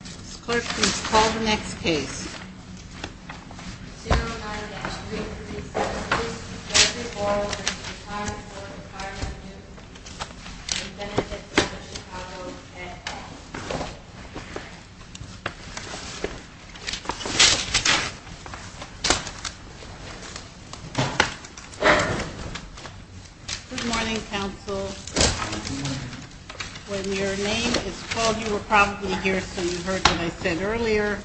Ms. Clerk, please call the next case. 09-3376, Leslie Borle v. Retirement Board of Firemen's Annuity & Benefit Fund of Chicago, Ed. Good morning, counsel. When your name is called, you were probably here, so you heard what I said earlier.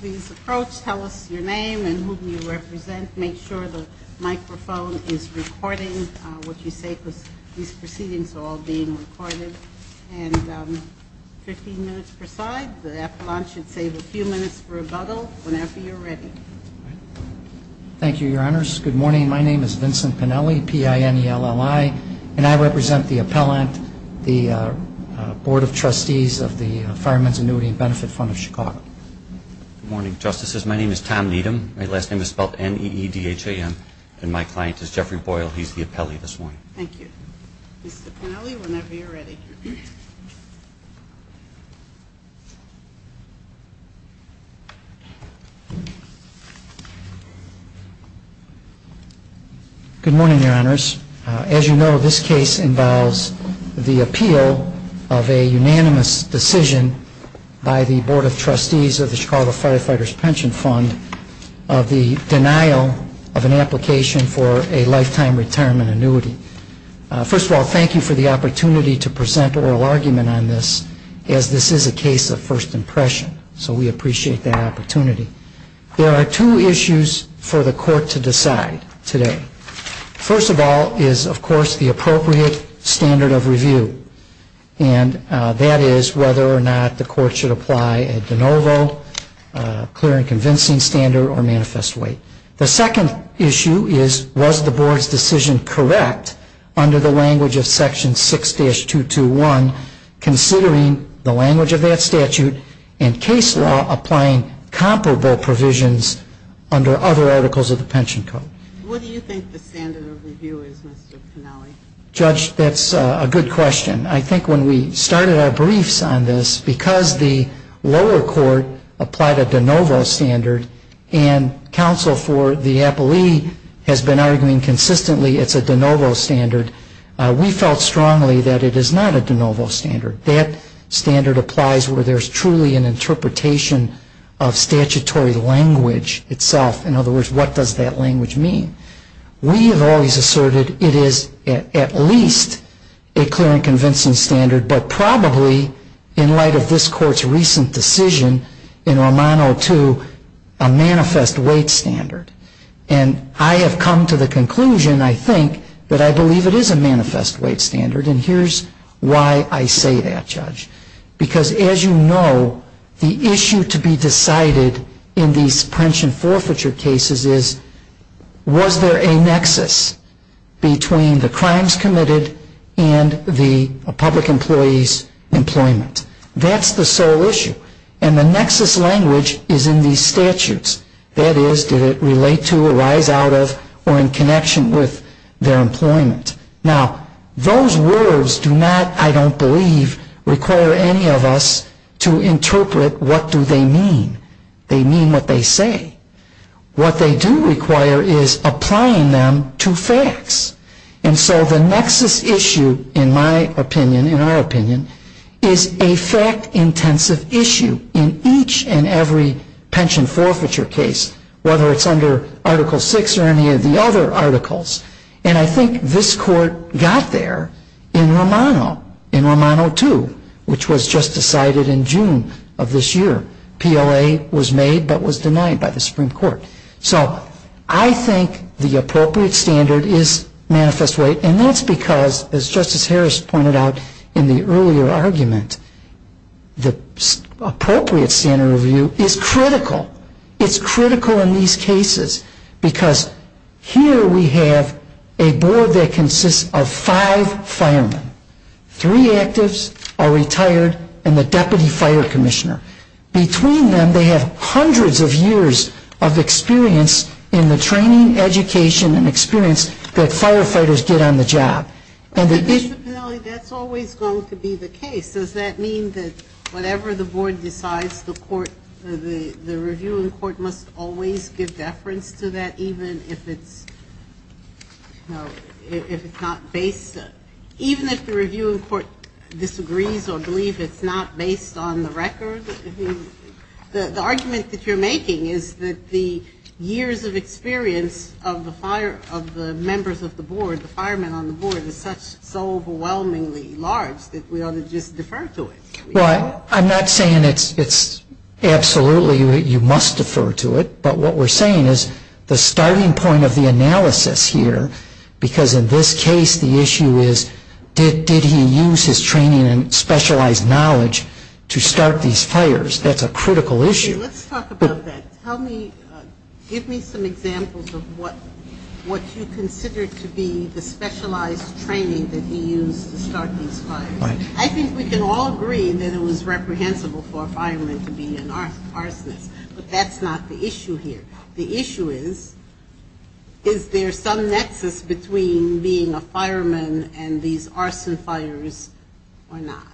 Please approach, tell us your name and whom you represent. Make sure the microphone is recording what you say because these proceedings are all being recorded. And 15 minutes per side. The appellant should save a few minutes for rebuttal whenever you're ready. Thank you, Your Honors. Good morning. My name is Vincent Pinelli, P-I-N-E-L-L-I, and I represent the appellant, the Board of Trustees of the Firemen's Annuity & Benefit Fund of Chicago. Good morning, Justices. My name is Tom Needham. My last name is spelled N-E-E-D-H-A-M, and my client is Jeffrey Boyle. He's the appellee this morning. Thank you. Mr. Pinelli, whenever you're ready. Good morning, Your Honors. As you know, this case involves the appeal of a unanimous decision by the Board of Trustees of the Chicago Firefighters Pension Fund of the denial of an application for a lifetime retirement annuity. First of all, thank you for the opportunity to present oral argument on this, as this is a case of first impression. So we appreciate that opportunity. There are two issues for the court to decide today. First of all is, of course, the appropriate standard of review, and that is whether or not the court should apply a de novo, clear and convincing standard, or manifest weight. The second issue is, was the Board's decision correct under the language of Section 6-221, considering the language of that statute and case law applying comparable provisions under other articles of the pension code? What do you think the standard of review is, Mr. Pinelli? Judge, that's a good question. I think when we started our briefs on this, because the lower court applied a de novo standard and counsel for the appellee has been arguing consistently it's a de novo standard, we felt strongly that it is not a de novo standard. That standard applies where there's truly an interpretation of statutory language itself. In other words, what does that language mean? We have always asserted it is at least a clear and convincing standard, but probably in light of this Court's recent decision in Romano 2, a manifest weight standard. And I have come to the conclusion, I think, that I believe it is a manifest weight standard, and here's why I say that, Judge. Because as you know, the issue to be decided in these pension forfeiture cases is was there a nexus between the crimes committed and the public employee's employment? That's the sole issue. And the nexus language is in these statutes. That is, did it relate to, arise out of, or in connection with their employment? Now, those words do not, I don't believe, require any of us to interpret what do they mean. They mean what they say. What they do require is applying them to facts. And so the nexus issue, in my opinion, in our opinion, is a fact-intensive issue in each and every pension forfeiture case, whether it's under Article 6 or any of the other articles. And I think this Court got there in Romano, in Romano 2, which was just decided in June of this year. PLA was made but was denied by the Supreme Court. So I think the appropriate standard is manifest weight, and that's because, as Justice Harris pointed out in the earlier argument, the appropriate standard of view is critical. It's critical in these cases because here we have a board that consists of five firemen. Three actives are retired and the deputy fire commissioner. Between them, they have hundreds of years of experience in the training, education, and experience that firefighters get on the job. But, Mr. Pennelly, that's always going to be the case. Does that mean that whatever the board decides, the review in court must always give deference to that, even if it's not based? Even if the review in court disagrees or believes it's not based on the record, the argument that you're making is that the years of experience of the members of the board, the firemen on the board, is so overwhelmingly large that we ought to just defer to it. Well, I'm not saying it's absolutely you must defer to it, but what we're saying is the starting point of the analysis here, because in this case the issue is did he use his training and specialized knowledge to start these fires? That's a critical issue. Let's talk about that. Give me some examples of what you consider to be the specialized training that he used to start these fires. I think we can all agree that it was reprehensible for a fireman to be an arsonist, but that's not the issue here. The issue is, is there some nexus between being a fireman and these arson fires or not?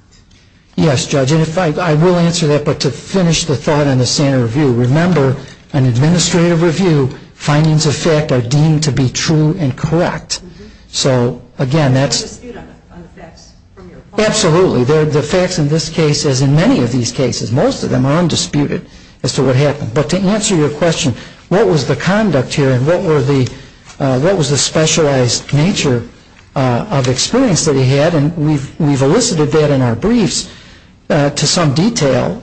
Yes, Judge, and I will answer that, but to finish the thought on the standard review, remember an administrative review, findings of fact are deemed to be true and correct. So, again, that's... There's a dispute on the facts from your point of view. Absolutely. The facts in this case, as in many of these cases, most of them are undisputed as to what happened. But to answer your question, what was the conduct here and what was the specialized nature of experience that he had, and we've elicited that in our briefs to some detail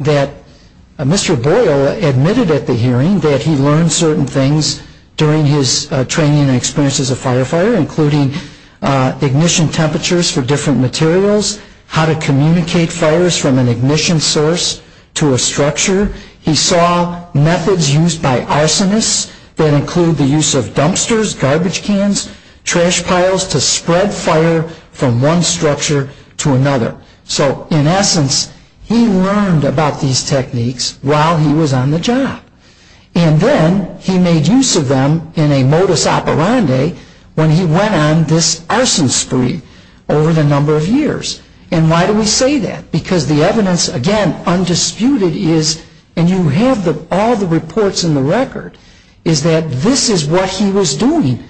that Mr. Boyle admitted at the hearing that he learned certain things during his training and experience as a firefighter, including ignition temperatures for different materials, how to communicate fires from an ignition source to a structure. He saw methods used by arsonists that include the use of dumpsters, garbage cans, trash piles to spread fire from one structure to another. So, in essence, he learned about these techniques while he was on the job. And then he made use of them in a modus operandi when he went on this arson spree over the number of years. And why do we say that? Because the evidence, again, undisputed is, and you have all the reports in the record, is that this is what he was doing.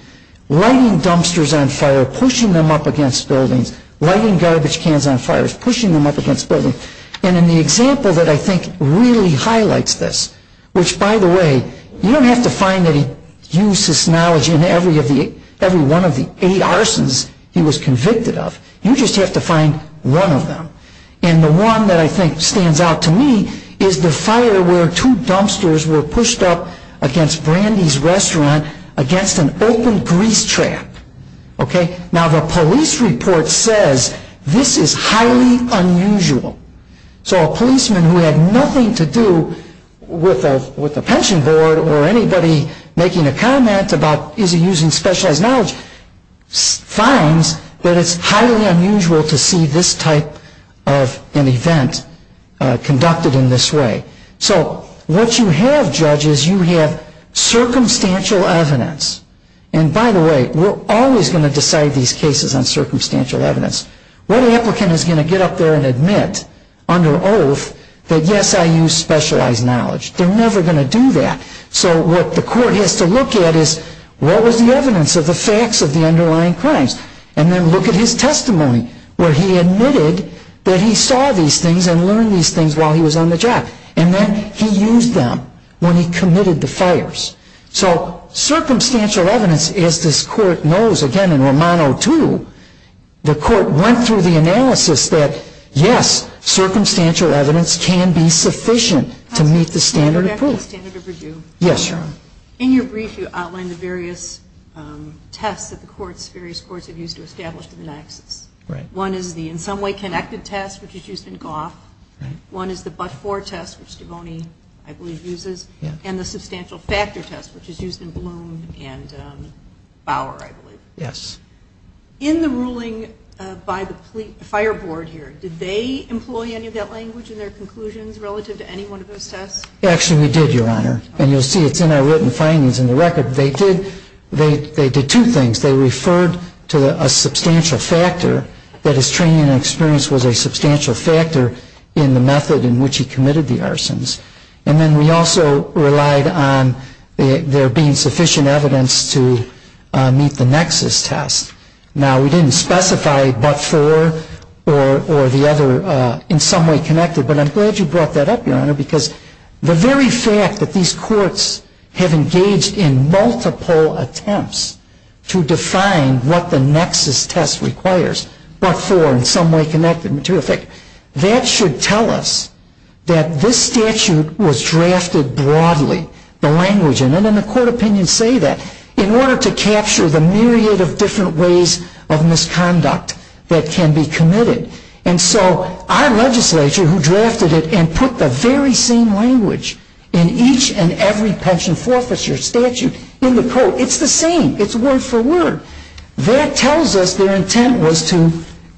Lighting dumpsters on fire, pushing them up against buildings, lighting garbage cans on fires, pushing them up against buildings. And in the example that I think really highlights this, which, by the way, you don't have to find that he used his knowledge in every one of the eight arsons he was convicted of. You just have to find one of them. And the one that I think stands out to me is the fire where two dumpsters were pushed up against Brandy's Restaurant against an open grease trap. Now, the police report says this is highly unusual. So a policeman who had nothing to do with a pension board or anybody making a comment about, is he using specialized knowledge, finds that it's highly unusual to see this type of an event conducted in this way. So what you have, judges, you have circumstantial evidence. And by the way, we're always going to decide these cases on circumstantial evidence. What applicant is going to get up there and admit under oath that, yes, I used specialized knowledge? They're never going to do that. So what the court has to look at is what was the evidence of the facts of the underlying crimes? And then look at his testimony where he admitted that he saw these things and learned these things while he was on the job. And then he used them when he committed the fires. So circumstantial evidence, as this court knows, again, in Romano II, the court went through the analysis that, yes, circumstantial evidence can be sufficient to meet the standard of proof. Yes, Your Honor. In your brief, you outlined the various tests that the courts, various courts have used to establish the analysis. Right. One is the, in some way, connected test, which is used in Goff. One is the but-for test, which Devoney, I believe, uses, and the substantial factor test, which is used in Bloom and Bauer, I believe. Yes. In the ruling by the Fire Board here, did they employ any of that language in their conclusions relative to any one of those tests? Actually, we did, Your Honor. And you'll see it's in our written findings in the record. They did two things. They referred to a substantial factor, that his training and experience was a substantial factor in the method in which he committed the arsons. And then we also relied on there being sufficient evidence to meet the nexus test. Now, we didn't specify but-for or the other in some way connected, but I'm glad you brought that up, Your Honor, because the very fact that these courts have engaged in multiple attempts to define what the nexus test requires, but-for, in some way connected to effect, that should tell us that this statute was drafted broadly, the language in it, and the court opinions say that, in order to capture the myriad of different ways of misconduct that can be committed. And so our legislature, who drafted it and put the very same language in each and every pension forfeiture statute in the court, it's the same. It's word-for-word. That tells us their intent was to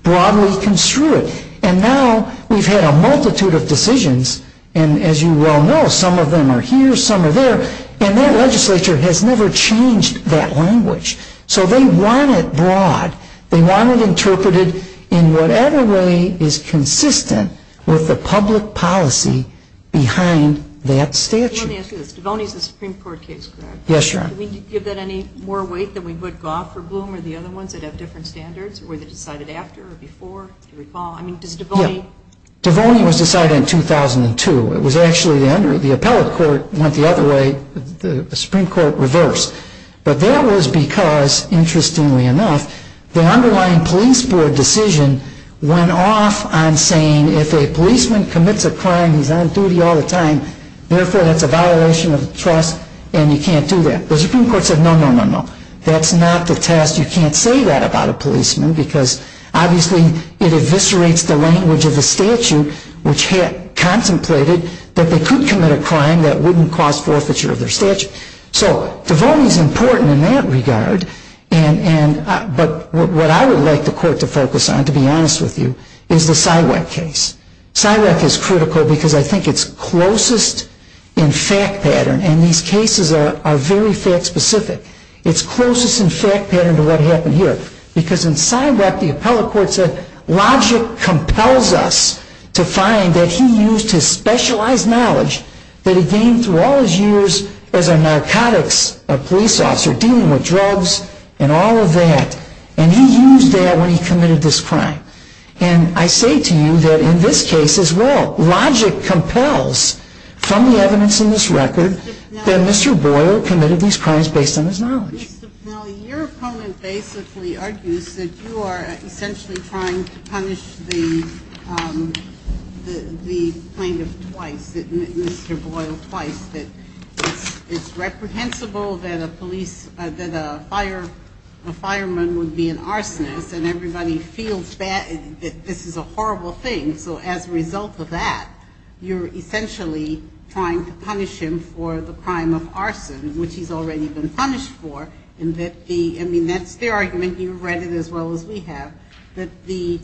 broadly construe it. And now we've had a multitude of decisions, and as you well know, some of them are here, some are there, and that legislature has never changed that language. So they want it broad. They want it interpreted in whatever way is consistent with the public policy behind that statute. Let me ask you this. Devoney is a Supreme Court case, correct? Yes, Your Honor. Did we give that any more weight than we would Gough or Bloom or the other ones that have different standards, or were they decided after or before? Yeah. Devoney was decided in 2002. It was actually the appellate court went the other way, the Supreme Court reversed. But that was because, interestingly enough, the underlying police board decision went off on saying, if a policeman commits a crime, he's on duty all the time, therefore that's a violation of the trust and you can't do that. The Supreme Court said, no, no, no, no. That's not the test. You can't say that about a policeman because, obviously, it eviscerates the language of the statute, which had contemplated that they could commit a crime that wouldn't cause forfeiture of their statute. So Devoney is important in that regard, but what I would like the court to focus on, to be honest with you, is the Siwak case. Siwak is critical because I think it's closest in fact pattern, and these cases are very fact specific. It's closest in fact pattern to what happened here. Because in Siwak, the appellate court said, logic compels us to find that he used his specialized knowledge that he gained through all his years as a narcotics police officer, dealing with drugs and all of that, and he used that when he committed this crime. And I say to you that in this case as well, logic compels from the evidence in this record that Mr. Boyle committed these crimes based on his knowledge. Your opponent basically argues that you are essentially trying to punish the plaintiff twice, Mr. Boyle twice, that it's reprehensible that a fireman would be an arsonist and everybody feels that this is a horrible thing. So as a result of that, you're essentially trying to punish him for the crime of arson, which he's already been punished for. I mean, that's their argument. You've read it as well as we have, that the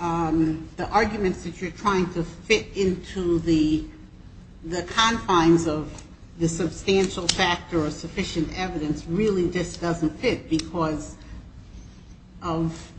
arguments that you're trying to fit into the confines of the substantial factor or sufficient evidence really just doesn't fit because of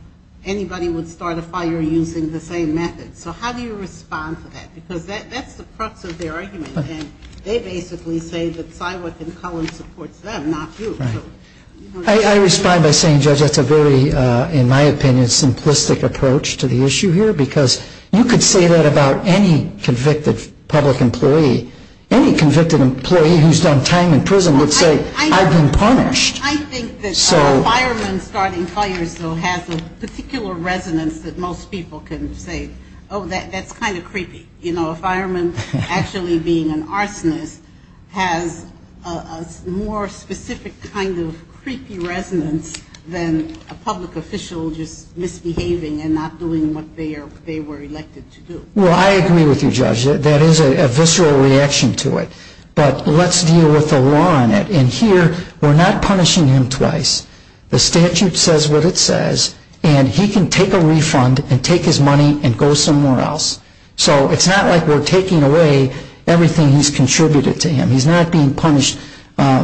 anybody would start a fire using the same method. So how do you respond to that? Because that's the crux of their argument, and they basically say that Syworth and Collins supports them, not you. Right. I respond by saying, Judge, that's a very, in my opinion, simplistic approach to the issue here because you could say that about any convicted public employee. Any convicted employee who's done time in prison would say, I've been punished. I think that a fireman starting fires, though, has a particular resonance that most people can say, oh, that's kind of creepy. You know, a fireman actually being an arsonist has a more specific kind of creepy resonance than a public official just misbehaving and not doing what they were elected to do. Well, I agree with you, Judge. That is a visceral reaction to it. But let's deal with the law in it. And here we're not punishing him twice. The statute says what it says, and he can take a refund and take his money and go somewhere else. So it's not like we're taking away everything he's contributed to him. He's not being punished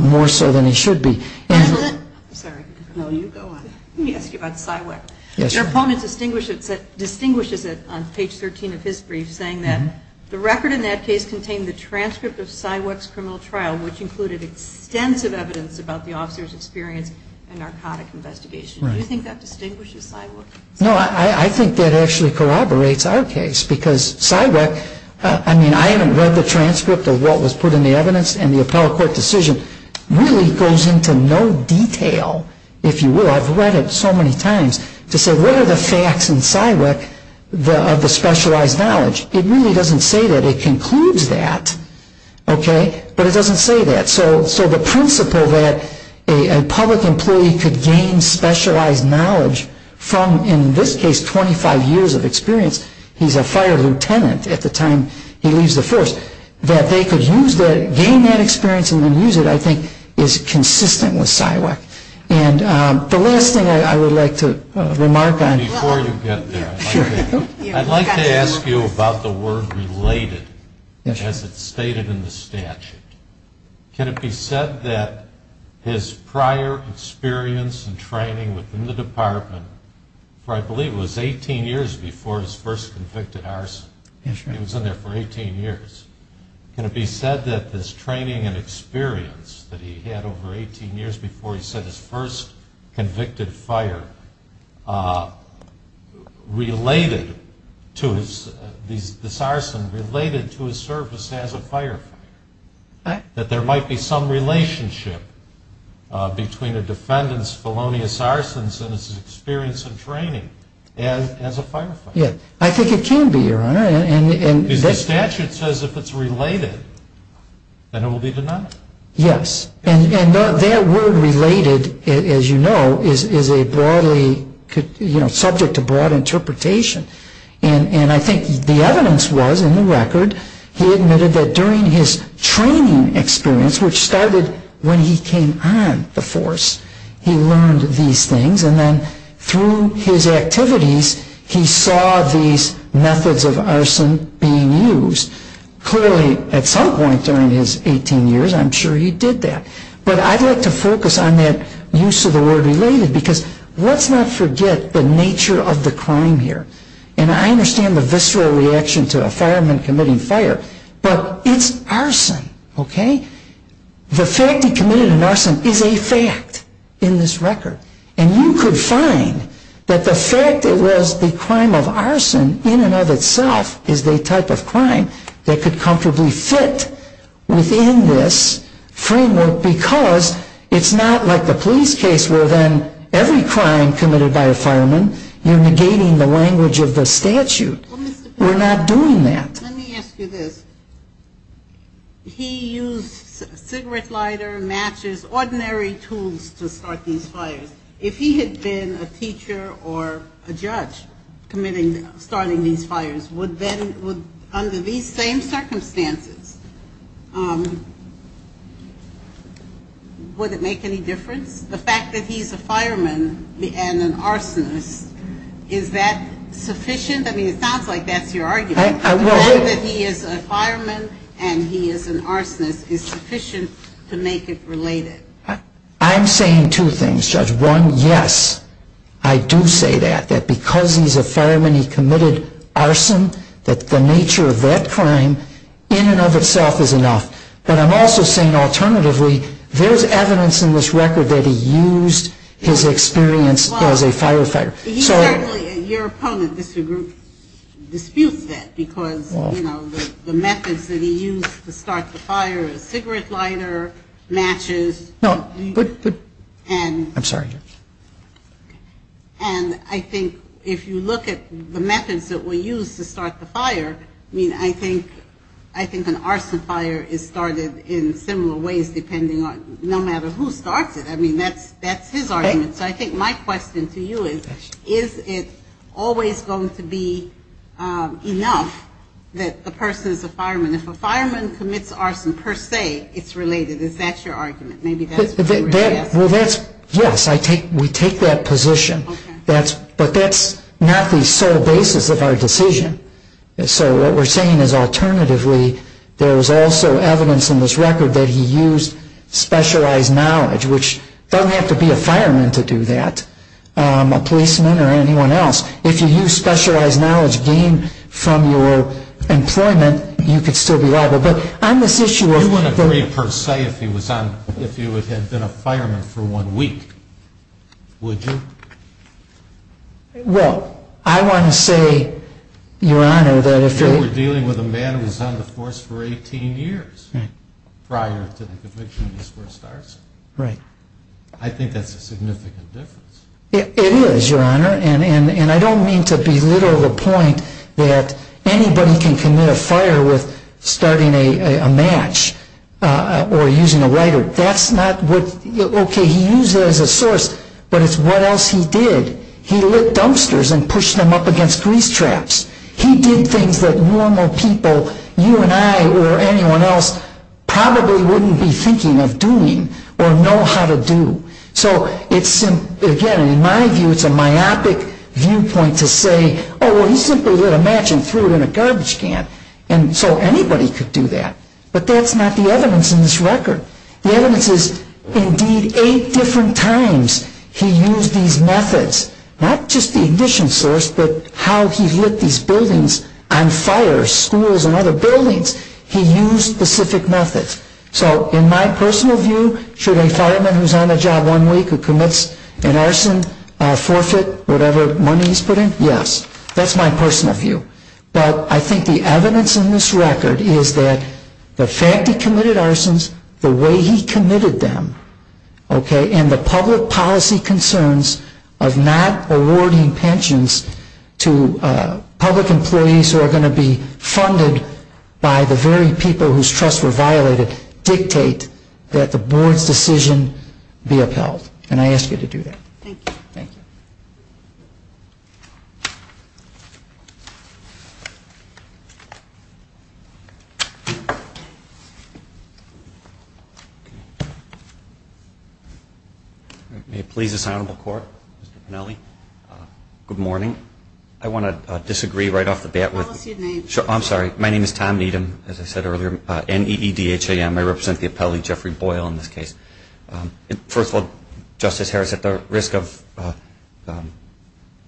more so than he should be. And that's a little bit, I'm sorry. No, you go on. Let me ask you about Syworth. Yes. Your opponent distinguishes it on page 13 of his brief, saying that the record in that case contained the transcript of Syworth's criminal trial, which included extensive evidence about the officer's experience in a narcotic investigation. Do you think that distinguishes Syworth? No, I think that actually corroborates our case. Because Syworth, I mean, I haven't read the transcript of what was put in the evidence, and the appellate court decision really goes into no detail, if you will. I've read it so many times, to say what are the facts in Syworth of the specialized knowledge. It really doesn't say that. It concludes that. Okay? But it doesn't say that. So the principle that a public employee could gain specialized knowledge from, in this case, 25 years of experience, he's a fire lieutenant at the time he leaves the force, that they could use that, gain that experience and then use it, I think, is consistent with Syworth. And the last thing I would like to remark on. Before you get there, I'd like to ask you about the word related. Yes, sir. As it's stated in the statute. Can it be said that his prior experience and training within the department, for I believe it was 18 years before his first convicted arson. Yes, sir. He was in there for 18 years. Can it be said that this training and experience that he had over 18 years before, he said his first convicted fire, related to the arson, related to his service as a firefighter? That there might be some relationship between a defendant's felonious arsons and his experience and training as a firefighter? I think it can be, Your Honor. Because the statute says if it's related, then it will be denied. Yes. And that word related, as you know, is a broadly, you know, subject to broad interpretation. And I think the evidence was in the record, he admitted that during his training experience, which started when he came on the force, he learned these things. And then through his activities, he saw these methods of arson being used. Clearly, at some point during his 18 years, I'm sure he did that. But I'd like to focus on that use of the word related, because let's not forget the nature of the crime here. And I understand the visceral reaction to a fireman committing fire, but it's arson, okay? The fact he committed an arson is a fact in this record. And you could find that the fact it was the crime of arson in and of itself is the type of crime that could comfortably fit within this framework, because it's not like the police case where then every crime committed by a fireman, you're negating the language of the statute. We're not doing that. Let me ask you this. He used cigarette lighter, matches, ordinary tools to start these fires. If he had been a teacher or a judge committing, starting these fires, would then, under these same circumstances, would it make any difference? The fact that he's a fireman and an arsonist, is that sufficient? I mean, it sounds like that's your argument. The fact that he is a fireman and he is an arsonist is sufficient to make it related. I'm saying two things, Judge. One, yes, I do say that, that because he's a fireman, he committed arson, that the nature of that crime in and of itself is enough. But I'm also saying alternatively, there's evidence in this record that he used his experience as a firefighter. He certainly, your opponent disputes that because, you know, the methods that he used to start the fire is cigarette lighter, matches. No, but, I'm sorry. And I think if you look at the methods that were used to start the fire, I mean, I think an arson fire is started in similar ways depending on, no matter who starts it. I mean, that's his argument. So I think my question to you is, is it always going to be enough that the person is a fireman? If a fireman commits arson per se, it's related. Is that your argument? Well, that's, yes, we take that position. But that's not the sole basis of our decision. So what we're saying is alternatively, there's also evidence in this record that he used specialized knowledge, which doesn't have to be a fireman to do that, a policeman or anyone else. If you use specialized knowledge gained from your employment, you could still be liable. But on this issue of the- You wouldn't agree per se if he had been a fireman for one week, would you? Well, I want to say, Your Honor, that if- If you were dealing with a man who was on the force for 18 years prior to the conviction, that's where it starts. Right. I think that's a significant difference. It is, Your Honor. And I don't mean to belittle the point that anybody can commit a fire with starting a match or using a lighter. That's not what- Okay, he used it as a source, but it's what else he did. He lit dumpsters and pushed them up against grease traps. He did things that normal people, you and I or anyone else, probably wouldn't be thinking of doing or know how to do. So it's- Again, in my view, it's a myopic viewpoint to say, Oh, well, he simply lit a match and threw it in a garbage can. And so anybody could do that. But that's not the evidence in this record. The evidence is, indeed, eight different times he used these methods. Not just the ignition source, but how he lit these buildings on fire, schools and other buildings. He used specific methods. So in my personal view, should a fireman who's on the job one week who commits an arson forfeit whatever money he's put in? Yes. That's my personal view. But I think the evidence in this record is that the fact he committed arsons, the way he committed them, okay, and the public policy concerns of not awarding pensions to public employees who are going to be funded by the very people whose trusts were violated dictate that the board's decision be upheld. And I ask you to do that. Thank you. Thank you. May it please this Honorable Court, Mr. Pennelly. Good morning. I want to disagree right off the bat with What's your name? I'm sorry. My name is Tom Needham, as I said earlier, N-E-E-D-H-A-M. I represent the appellee Jeffrey Boyle in this case. First of all, Justice Harris, at the risk of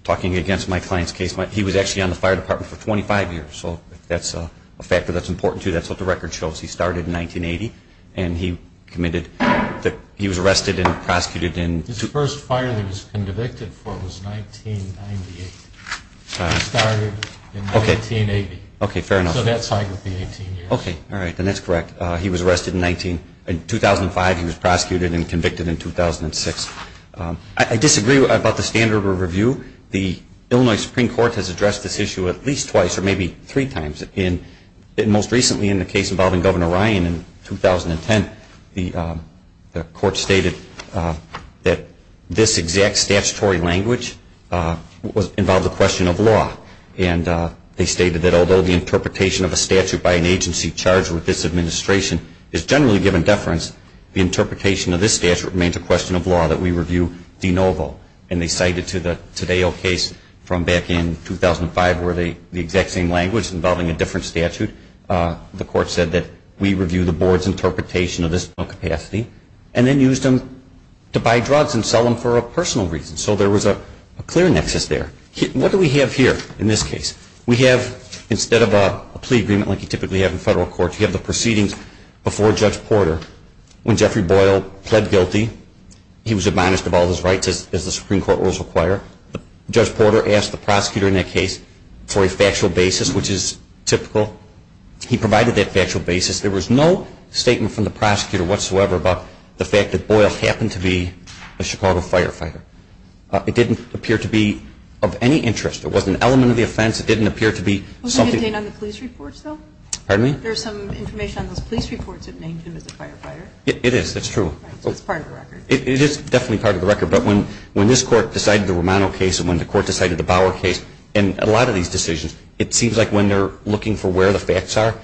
talking against my client's case, he was actually on the fire department for 25 years. So that's a factor that's important to you. That's what the record shows. He started in 1980, and he was arrested and prosecuted in His first fire that he was convicted for was 1998. He started in 1980. Okay, fair enough. So that side would be 18 years. Okay. All right. Then that's correct. He was arrested in 2005. He was prosecuted and convicted in 2006. I disagree about the standard of review. The Illinois Supreme Court has addressed this issue at least twice or maybe three times. Most recently in the case involving Governor Ryan in 2010, the court stated that this exact statutory language involved a question of law. And they stated that although the interpretation of a statute by an agency charged with this administration is generally given deference, the interpretation of this statute remains a question of law that we review de novo. And they cited to the Tadeo case from back in 2005 where the exact same language involving a different statute, the court said that we review the board's interpretation of this capacity and then used them to buy drugs and sell them for a personal reason. So there was a clear nexus there. What do we have here in this case? We have, instead of a plea agreement like you typically have in federal court, you have the proceedings before Judge Porter. When Jeffrey Boyle pled guilty, he was admonished of all his rights as the Supreme Court rules require. Judge Porter asked the prosecutor in that case for a factual basis, which is typical. He provided that factual basis. There was no statement from the prosecutor whatsoever about the fact that Boyle happened to be a Chicago firefighter. It didn't appear to be of any interest. It wasn't an element of the offense. It didn't appear to be something. Was it contained on the police reports, though? Pardon me? There's some information on those police reports that named him as a firefighter. It is. That's true. So it's part of the record. It is definitely part of the record. But when this court decided the Romano case and when the court decided the Bauer case and a lot of these decisions, it seems like when they're looking for where the facts are,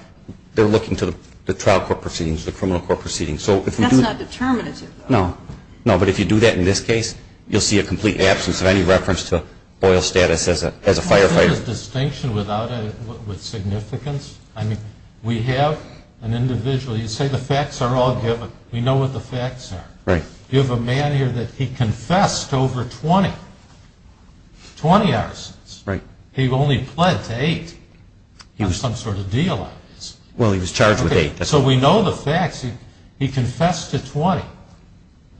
they're looking to the trial court proceedings, the criminal court proceedings. That's not determinative, though. No. No, but if you do that in this case, you'll see a complete absence of any reference to Boyle's status as a firefighter. Is this a distinction without significance? I mean, we have an individual. You say the facts are all given. We know what the facts are. Right. You have a man here that he confessed to over 20, 20 arsons. Right. He only pled to eight. He had some sort of deal on this. Well, he was charged with eight. So we know the facts. He confessed to 20.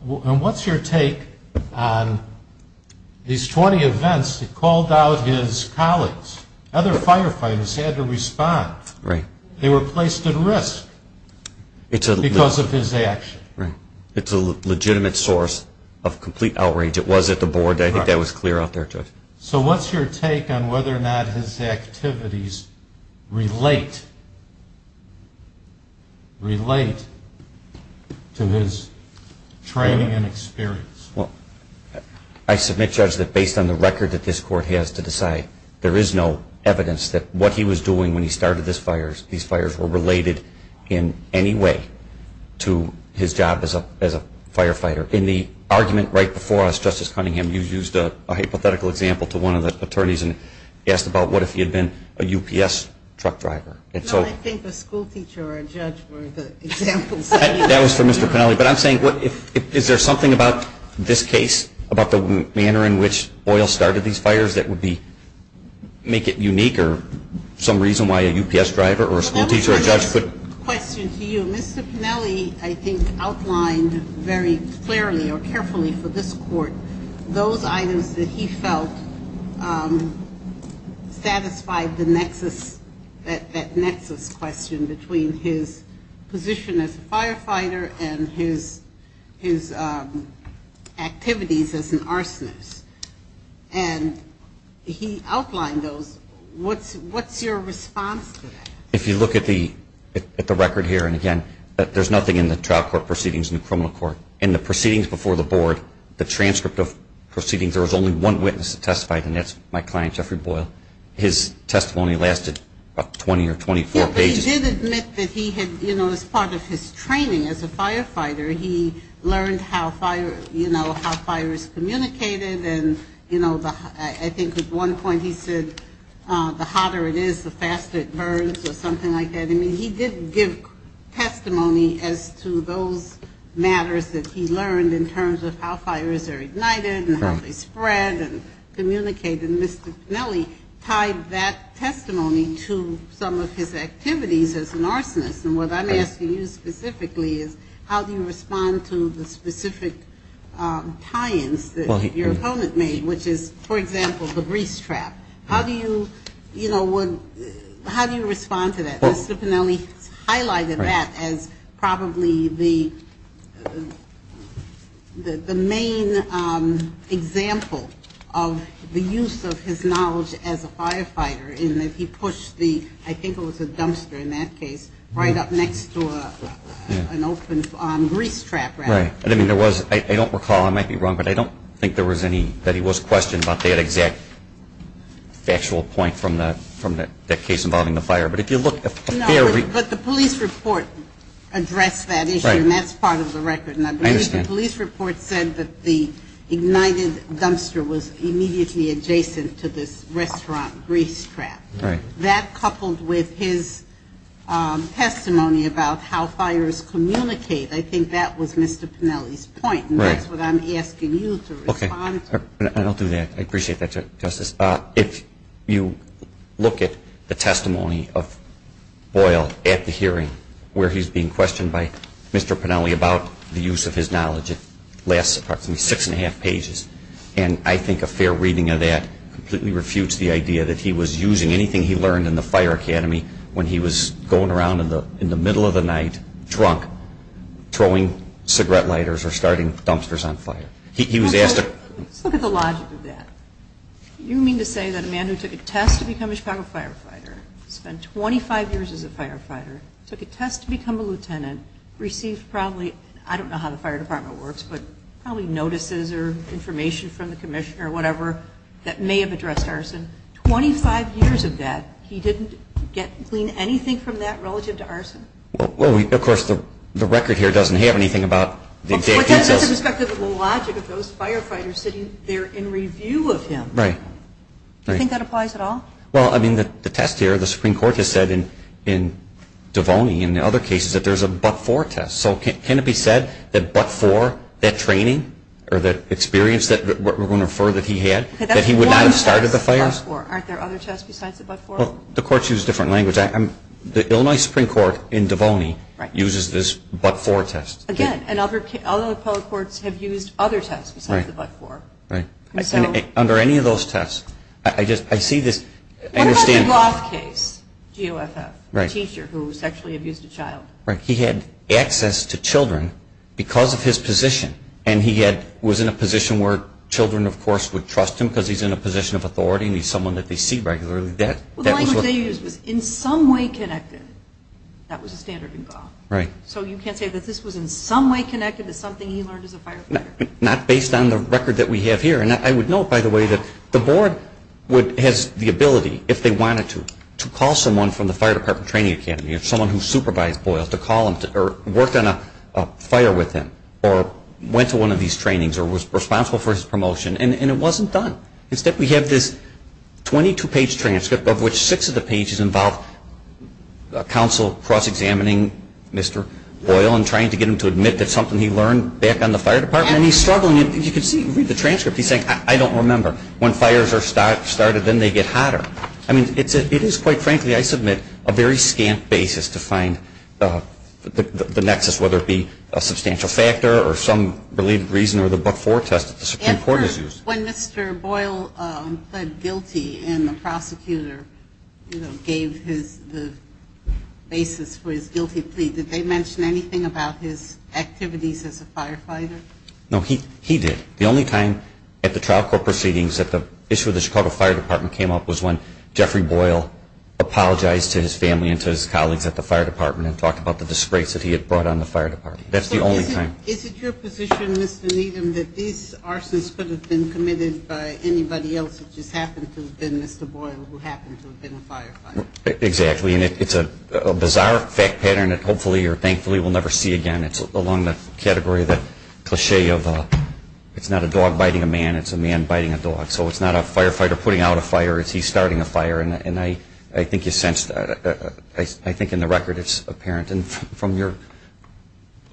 And what's your take on these 20 events? He called out his colleagues. Other firefighters had to respond. Right. They were placed at risk because of his action. Right. It's a legitimate source of complete outrage. I think that was clear out there, Judge. So what's your take on whether or not his activities relate to his training and experience? Well, I submit, Judge, that based on the record that this Court has to decide, there is no evidence that what he was doing when he started these fires were related in any way to his job as a firefighter. In the argument right before us, Justice Cunningham, you used a hypothetical example to one of the attorneys and asked about what if he had been a UPS truck driver. No, I think a schoolteacher or a judge were the examples. That was for Mr. Pennelly. But I'm saying, is there something about this case, about the manner in which Boyle started these fires, that would make it unique or some reason why a UPS driver or a schoolteacher or a judge could? I have a question to you. Mr. Pennelly, I think, outlined very clearly or carefully for this Court those items that he felt satisfied the nexus, that nexus question between his position as a firefighter and his activities as an arsonist. And he outlined those. What's your response to that? If you look at the record here, and again, there's nothing in the trial court proceedings in the criminal court. In the proceedings before the Board, the transcript of proceedings, there was only one witness that testified, and that's my client, Jeffrey Boyle. His testimony lasted about 20 or 24 pages. Yeah, but he did admit that he had, you know, as part of his training as a firefighter, he learned how fire, you know, something like that. I mean, he did give testimony as to those matters that he learned in terms of how fires are ignited and how they spread and communicate. And Mr. Pennelly tied that testimony to some of his activities as an arsonist. And what I'm asking you specifically is how do you respond to the specific tie-ins that your opponent made, which is, for example, the breeze trap? How do you, you know, how do you respond to that? Mr. Pennelly highlighted that as probably the main example of the use of his knowledge as a firefighter in that he pushed the, I think it was a dumpster in that case, right up next to an open breeze trap, rather. Right. I mean, there was, I don't recall, I might be wrong, but I don't think there was any, that he was questioned about that exact factual point from that case involving the fire. But if you look at the fairly- No, but the police report addressed that issue. Right. And that's part of the record. I understand. The police report said that the ignited dumpster was immediately adjacent to this restaurant breeze trap. Right. That coupled with his testimony about how fires communicate, I think that was Mr. Pennelly's point. Right. That's what I'm asking you to respond to. Okay. And I'll do that. I appreciate that, Justice. If you look at the testimony of Boyle at the hearing where he's being questioned by Mr. Pennelly about the use of his knowledge, it lasts approximately six and a half pages. And I think a fair reading of that completely refutes the idea that he was using anything he learned in the fire academy when he was going around in the middle of the night, drunk, throwing cigarette lighters or starting dumpsters on fire. He was asked to- Let's look at the logic of that. You mean to say that a man who took a test to become a Chicago firefighter, spent 25 years as a firefighter, took a test to become a lieutenant, received probably, I don't know how the fire department works, but probably notices or information from the commissioner or whatever that may have addressed arson. Twenty-five years of that, he didn't glean anything from that relative to arson? Well, of course, the record here doesn't have anything about the- But that's the perspective of the logic of those firefighters sitting there in review of him. Right. Do you think that applies at all? Well, I mean, the test here, the Supreme Court has said in Devoney and other cases that there's a but-for test. So can it be said that but-for, that training or that experience that we're going to refer that he had, that he would not have started the fires? But that's one test, the but-for. Aren't there other tests besides the but-for? Well, the courts use different language. The Illinois Supreme Court in Devoney uses this but-for test. Again, and other public courts have used other tests besides the but-for. Right. And so- Under any of those tests, I see this- What about the Gloth case, GOFF, the teacher who sexually abused a child? Right. He had access to children because of his position. And he was in a position where children, of course, would trust him because he's in a position of authority and he's someone that they see regularly. Well, the language they used was in some way connected. That was the standard in GOFF. Right. So you can't say that this was in some way connected to something he learned as a firefighter? Not based on the record that we have here. And I would note, by the way, that the board has the ability, if they wanted to, to call someone from the Fire Department Training Academy, someone who supervised Boyle, to call him or worked on a fire with him or went to one of these trainings or was responsible for his promotion, and it wasn't done. Instead, we have this 22-page transcript of which six of the pages involve counsel cross-examining Mr. Boyle and trying to get him to admit that something he learned back on the Fire Department. And he's struggling. You can see, read the transcript. He's saying, I don't remember. When fires are started, then they get hotter. I mean, it is, quite frankly, I submit, a very scant basis to find the nexus, whether it be a substantial factor or some related reason or the but-for test that the Supreme Court has used. And when Mr. Boyle pled guilty and the prosecutor gave the basis for his guilty plea, did they mention anything about his activities as a firefighter? No, he did. The only time at the trial court proceedings that the issue of the Chicago Fire Department came up was when Jeffrey Boyle apologized to his family and to his colleagues at the Fire Department and talked about the disgrace that he had brought on the Fire Department. That's the only time. So is it your position, Mr. Needham, that these arsons could have been committed by anybody else that just happened to have been Mr. Boyle who happened to have been a firefighter? Exactly. And it's a bizarre fact pattern that hopefully or thankfully we'll never see again. It's along the category of the cliché of it's not a dog biting a man, it's a man biting a dog. So it's not a firefighter putting out a fire, it's he starting a fire. And I think you sense that. I think in the record it's apparent. And from your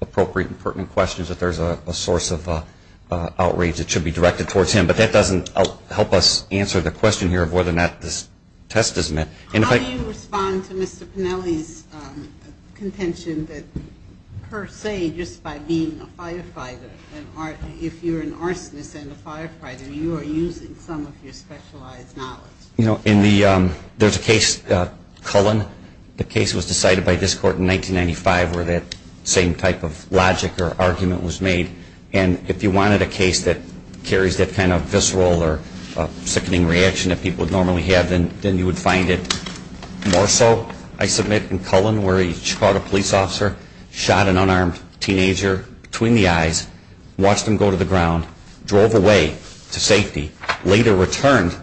appropriate and pertinent questions that there's a source of outrage that should be directed towards him. But that doesn't help us answer the question here of whether or not this test is meant. How do you respond to Mr. Pennelly's contention that per se, just by being a firefighter, if you're an arsonist and a firefighter, you are using some of your specialized knowledge? You know, there's a case, Cullen, the case was decided by this court in 1995 where that same type of logic or argument was made. And if you wanted a case that carries that kind of visceral or sickening reaction that people normally have, then you would find it more so, I submit, in Cullen where he caught a police officer, shot an unarmed teenager between the eyes, watched him go to the ground, drove away to safety, later returned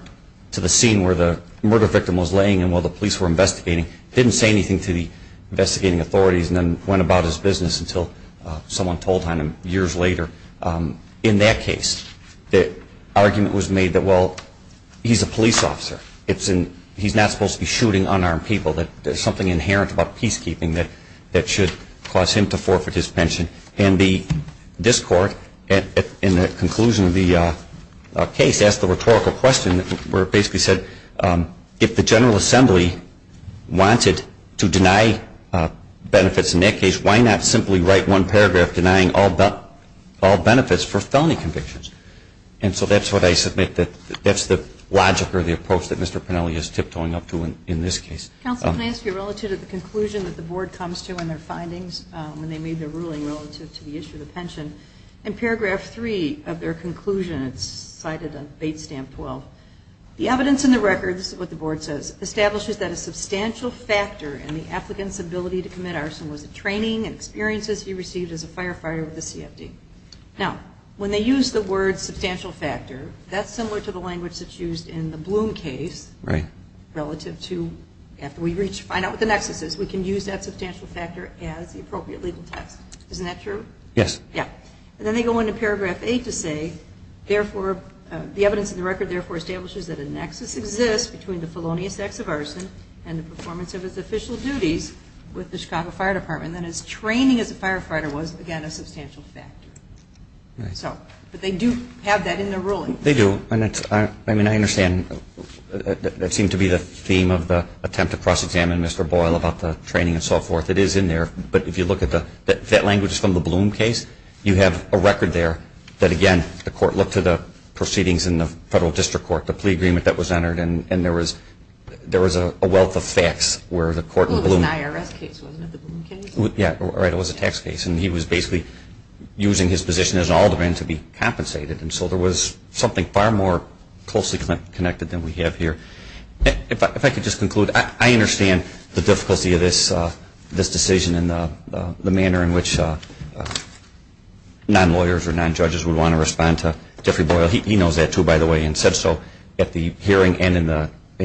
to the scene where the murder victim was laying and while the police were investigating, didn't say anything to the investigating authorities and then went about his business until someone told on him years later. In that case, the argument was made that, well, he's a police officer. He's not supposed to be shooting unarmed people. There's something inherent about peacekeeping that should cause him to forfeit his pension. And this court, in the conclusion of the case, asked the rhetorical question where it basically said, if the General Assembly wanted to deny benefits in that case, why not simply write one paragraph denying all benefits for felony convictions? And so that's what I submit. That's the logic or the approach that Mr. Pennelly is tiptoeing up to in this case. Counsel, may I ask you, relative to the conclusion that the Board comes to in their findings when they made their ruling relative to the issue of the pension, in paragraph three of their conclusion, it's cited on page stamp 12, the evidence in the records, what the Board says, establishes that a substantial factor in the applicant's ability to commit arson was the training and experiences he received as a firefighter with the CFD. Now, when they use the word substantial factor, that's similar to the language that's used in the Bloom case relative to, after we reach, find out what the nexus is, we can use that substantial factor as the appropriate legal text. Isn't that true? Yes. Yeah. And then they go into paragraph eight to say, therefore, the evidence in the record, therefore, establishes that a nexus exists between the felonious acts of arson and the performance of his official duties with the Chicago Fire Department, and that his training as a firefighter was, again, a substantial factor. Right. So, but they do have that in their ruling. They do. And that's, I mean, I understand. That seemed to be the theme of the attempt to cross-examine Mr. Boyle about the training and so forth. It is in there. But if you look at the, that language is from the Bloom case. You have a record there that, again, the court looked to the proceedings in the federal district court, the plea agreement that was entered, and there was a wealth of facts where the court in Bloom. Well, it was an IRS case, wasn't it, the Bloom case? Yeah, right. It was a tax case. And he was basically using his position as an alderman to be compensated. And so there was something far more closely connected than we have here. If I could just conclude. I understand the difficulty of this decision and the manner in which non-lawyers or non-judges would want to respond to Jeffrey Boyle. He knows that, too, by the way, and said so at the hearing and in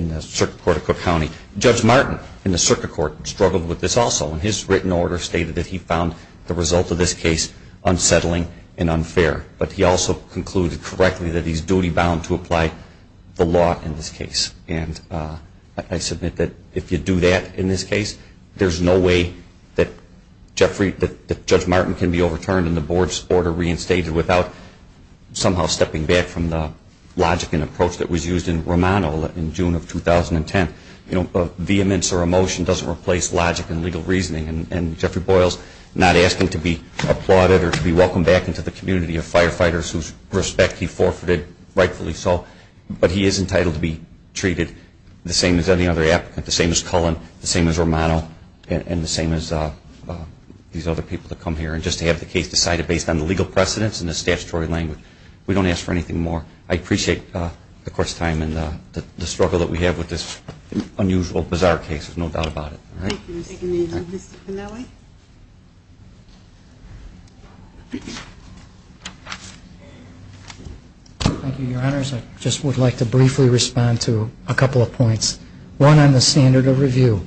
the circuit court of Cook County. Judge Martin in the circuit court struggled with this also. And his written order stated that he found the result of this case unsettling and unfair. But he also concluded correctly that he's duty-bound to apply the law in this case. And I submit that if you do that in this case, there's no way that Judge Martin can be overturned and the board's order reinstated without somehow stepping back from the logic and approach that was used in Romano in June of 2010. You know, vehemence or emotion doesn't replace logic and legal reasoning. And Jeffrey Boyle's not asking to be applauded or to be welcomed back into the community of firefighters whose respect he forfeited, rightfully so. But he is entitled to be treated the same as any other applicant, the same as Cullen, the same as Romano, and the same as these other people that come here. And just to have the case decided based on the legal precedence and the statutory language, we don't ask for anything more. I appreciate the court's time and the struggle that we have with this unusual, bizarre case. There's no doubt about it. All right? Thank you. We'll take a motion. Mr. Pinelli? Thank you, Your Honors. I just would like to briefly respond to a couple of points. One, on the standard of review.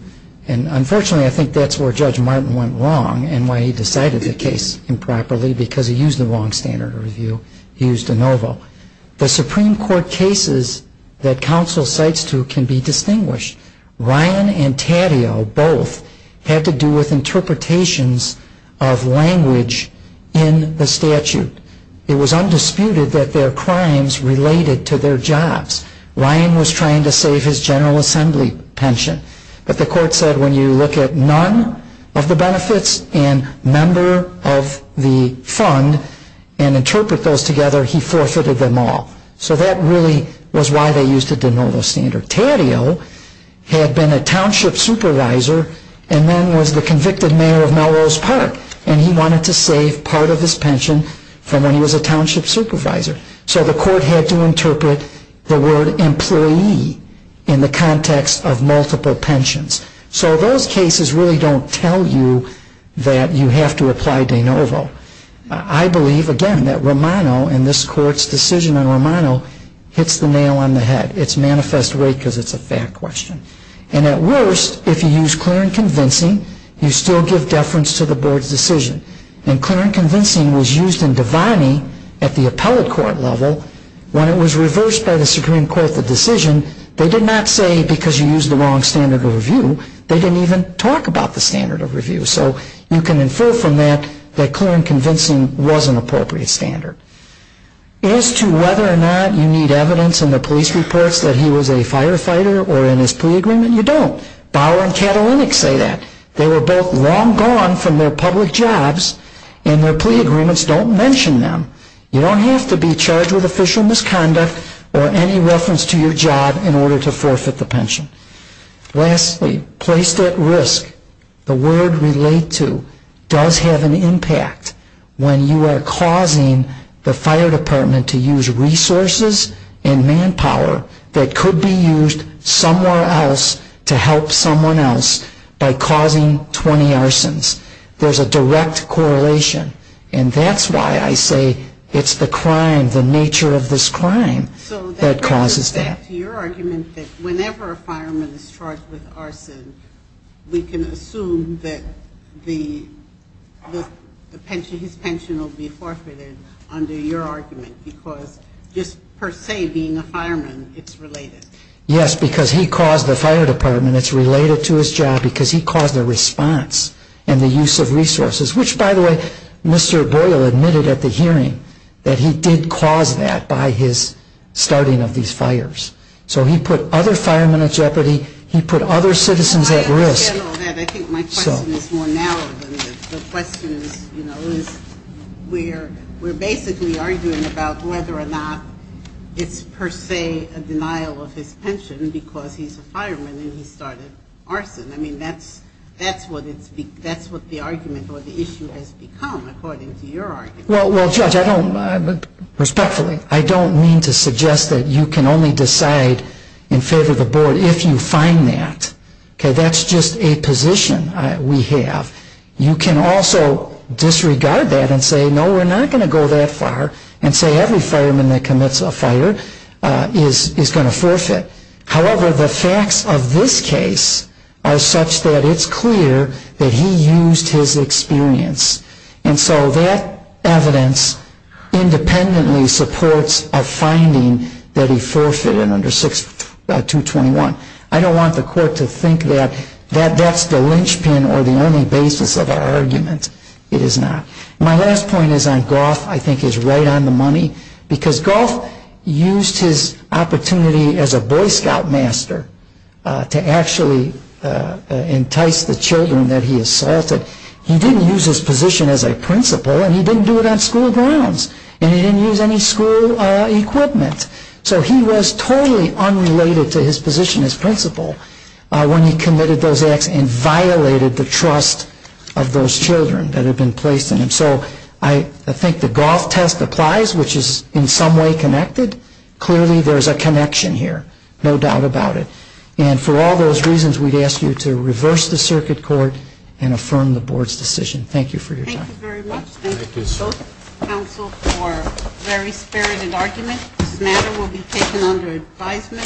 And unfortunately, I think that's where Judge Martin went wrong and why he decided the case improperly, because he used the wrong standard of review. He used de novo. The Supreme Court cases that counsel cites to can be distinguished. Ryan and Taddeo both had to do with interpretive reasoning. It was undisputed that their crimes related to their jobs. Ryan was trying to save his General Assembly pension. But the court said when you look at none of the benefits and member of the fund and interpret those together, he forfeited them all. So that really was why they used a de novo standard. Taddeo had been a township supervisor and then was the convicted mayor of Melrose Park, and he wanted to save part of his pension from when he was a township supervisor. So the court had to interpret the word employee in the context of multiple pensions. So those cases really don't tell you that you have to apply de novo. I believe, again, that Romano and this court's decision on Romano hits the nail on the head. It's manifest right because it's a fact question. And at worst, if you use clear and convincing, you still give deference to the board's decision. And clear and convincing was used in Devaney at the appellate court level. When it was reversed by the Supreme Court, the decision, they did not say because you used the wrong standard of review. They didn't even talk about the standard of review. So you can infer from that that clear and convincing was an appropriate standard. As to whether or not you need evidence in the police reports that he was a firefighter or in his plea agreement, you don't. Bauer and Katalinik say that. They were both long gone from their public jobs, and their plea agreements don't mention them. You don't have to be charged with official misconduct or any reference to your job in order to forfeit the pension. Lastly, placed at risk, the word relate to does have an impact when you are talking about causing the fire department to use resources and manpower that could be used somewhere else to help someone else by causing 20 arsons. There's a direct correlation. And that's why I say it's the crime, the nature of this crime that causes that. So that goes back to your argument that whenever a fireman is charged with your argument because just per se being a fireman, it's related. Yes, because he caused the fire department. It's related to his job because he caused the response and the use of resources, which, by the way, Mr. Boyle admitted at the hearing that he did cause that by his starting of these fires. So he put other firemen at jeopardy. He put other citizens at risk. I think my question is more narrow than the questions. We're basically arguing about whether or not it's per se a denial of his pension because he's a fireman and he started arson. I mean, that's what the argument or the issue has become according to your argument. Well, Judge, respectfully, I don't mean to suggest that you can only decide in favor of the board if you find that. That's just a position we have. You can also disregard that and say, no, we're not going to go that far and say every fireman that commits a fire is going to forfeit. However, the facts of this case are such that it's clear that he used his experience. And so that evidence independently supports a finding that he forfeited under 6221. I don't want the court to think that that's the linchpin or the only basis of our argument. It is not. My last point is on Goff, I think, is right on the money because Goff used his opportunity as a Boy Scout master to actually entice the children that he assaulted. He didn't use his position as a principal and he didn't do it on school grounds. And he didn't use any school equipment. So he was totally unrelated to his position as principal when he committed those acts and violated the trust of those children that had been placed in him. So I think the Goff test applies, which is in some way connected. Clearly there's a connection here, no doubt about it. And for all those reasons, we'd ask you to reverse the circuit court and affirm the board's decision. Thank you for your time. Thank you very much. Thank you, counsel, for a very spirited argument. This matter will be taken under advisement.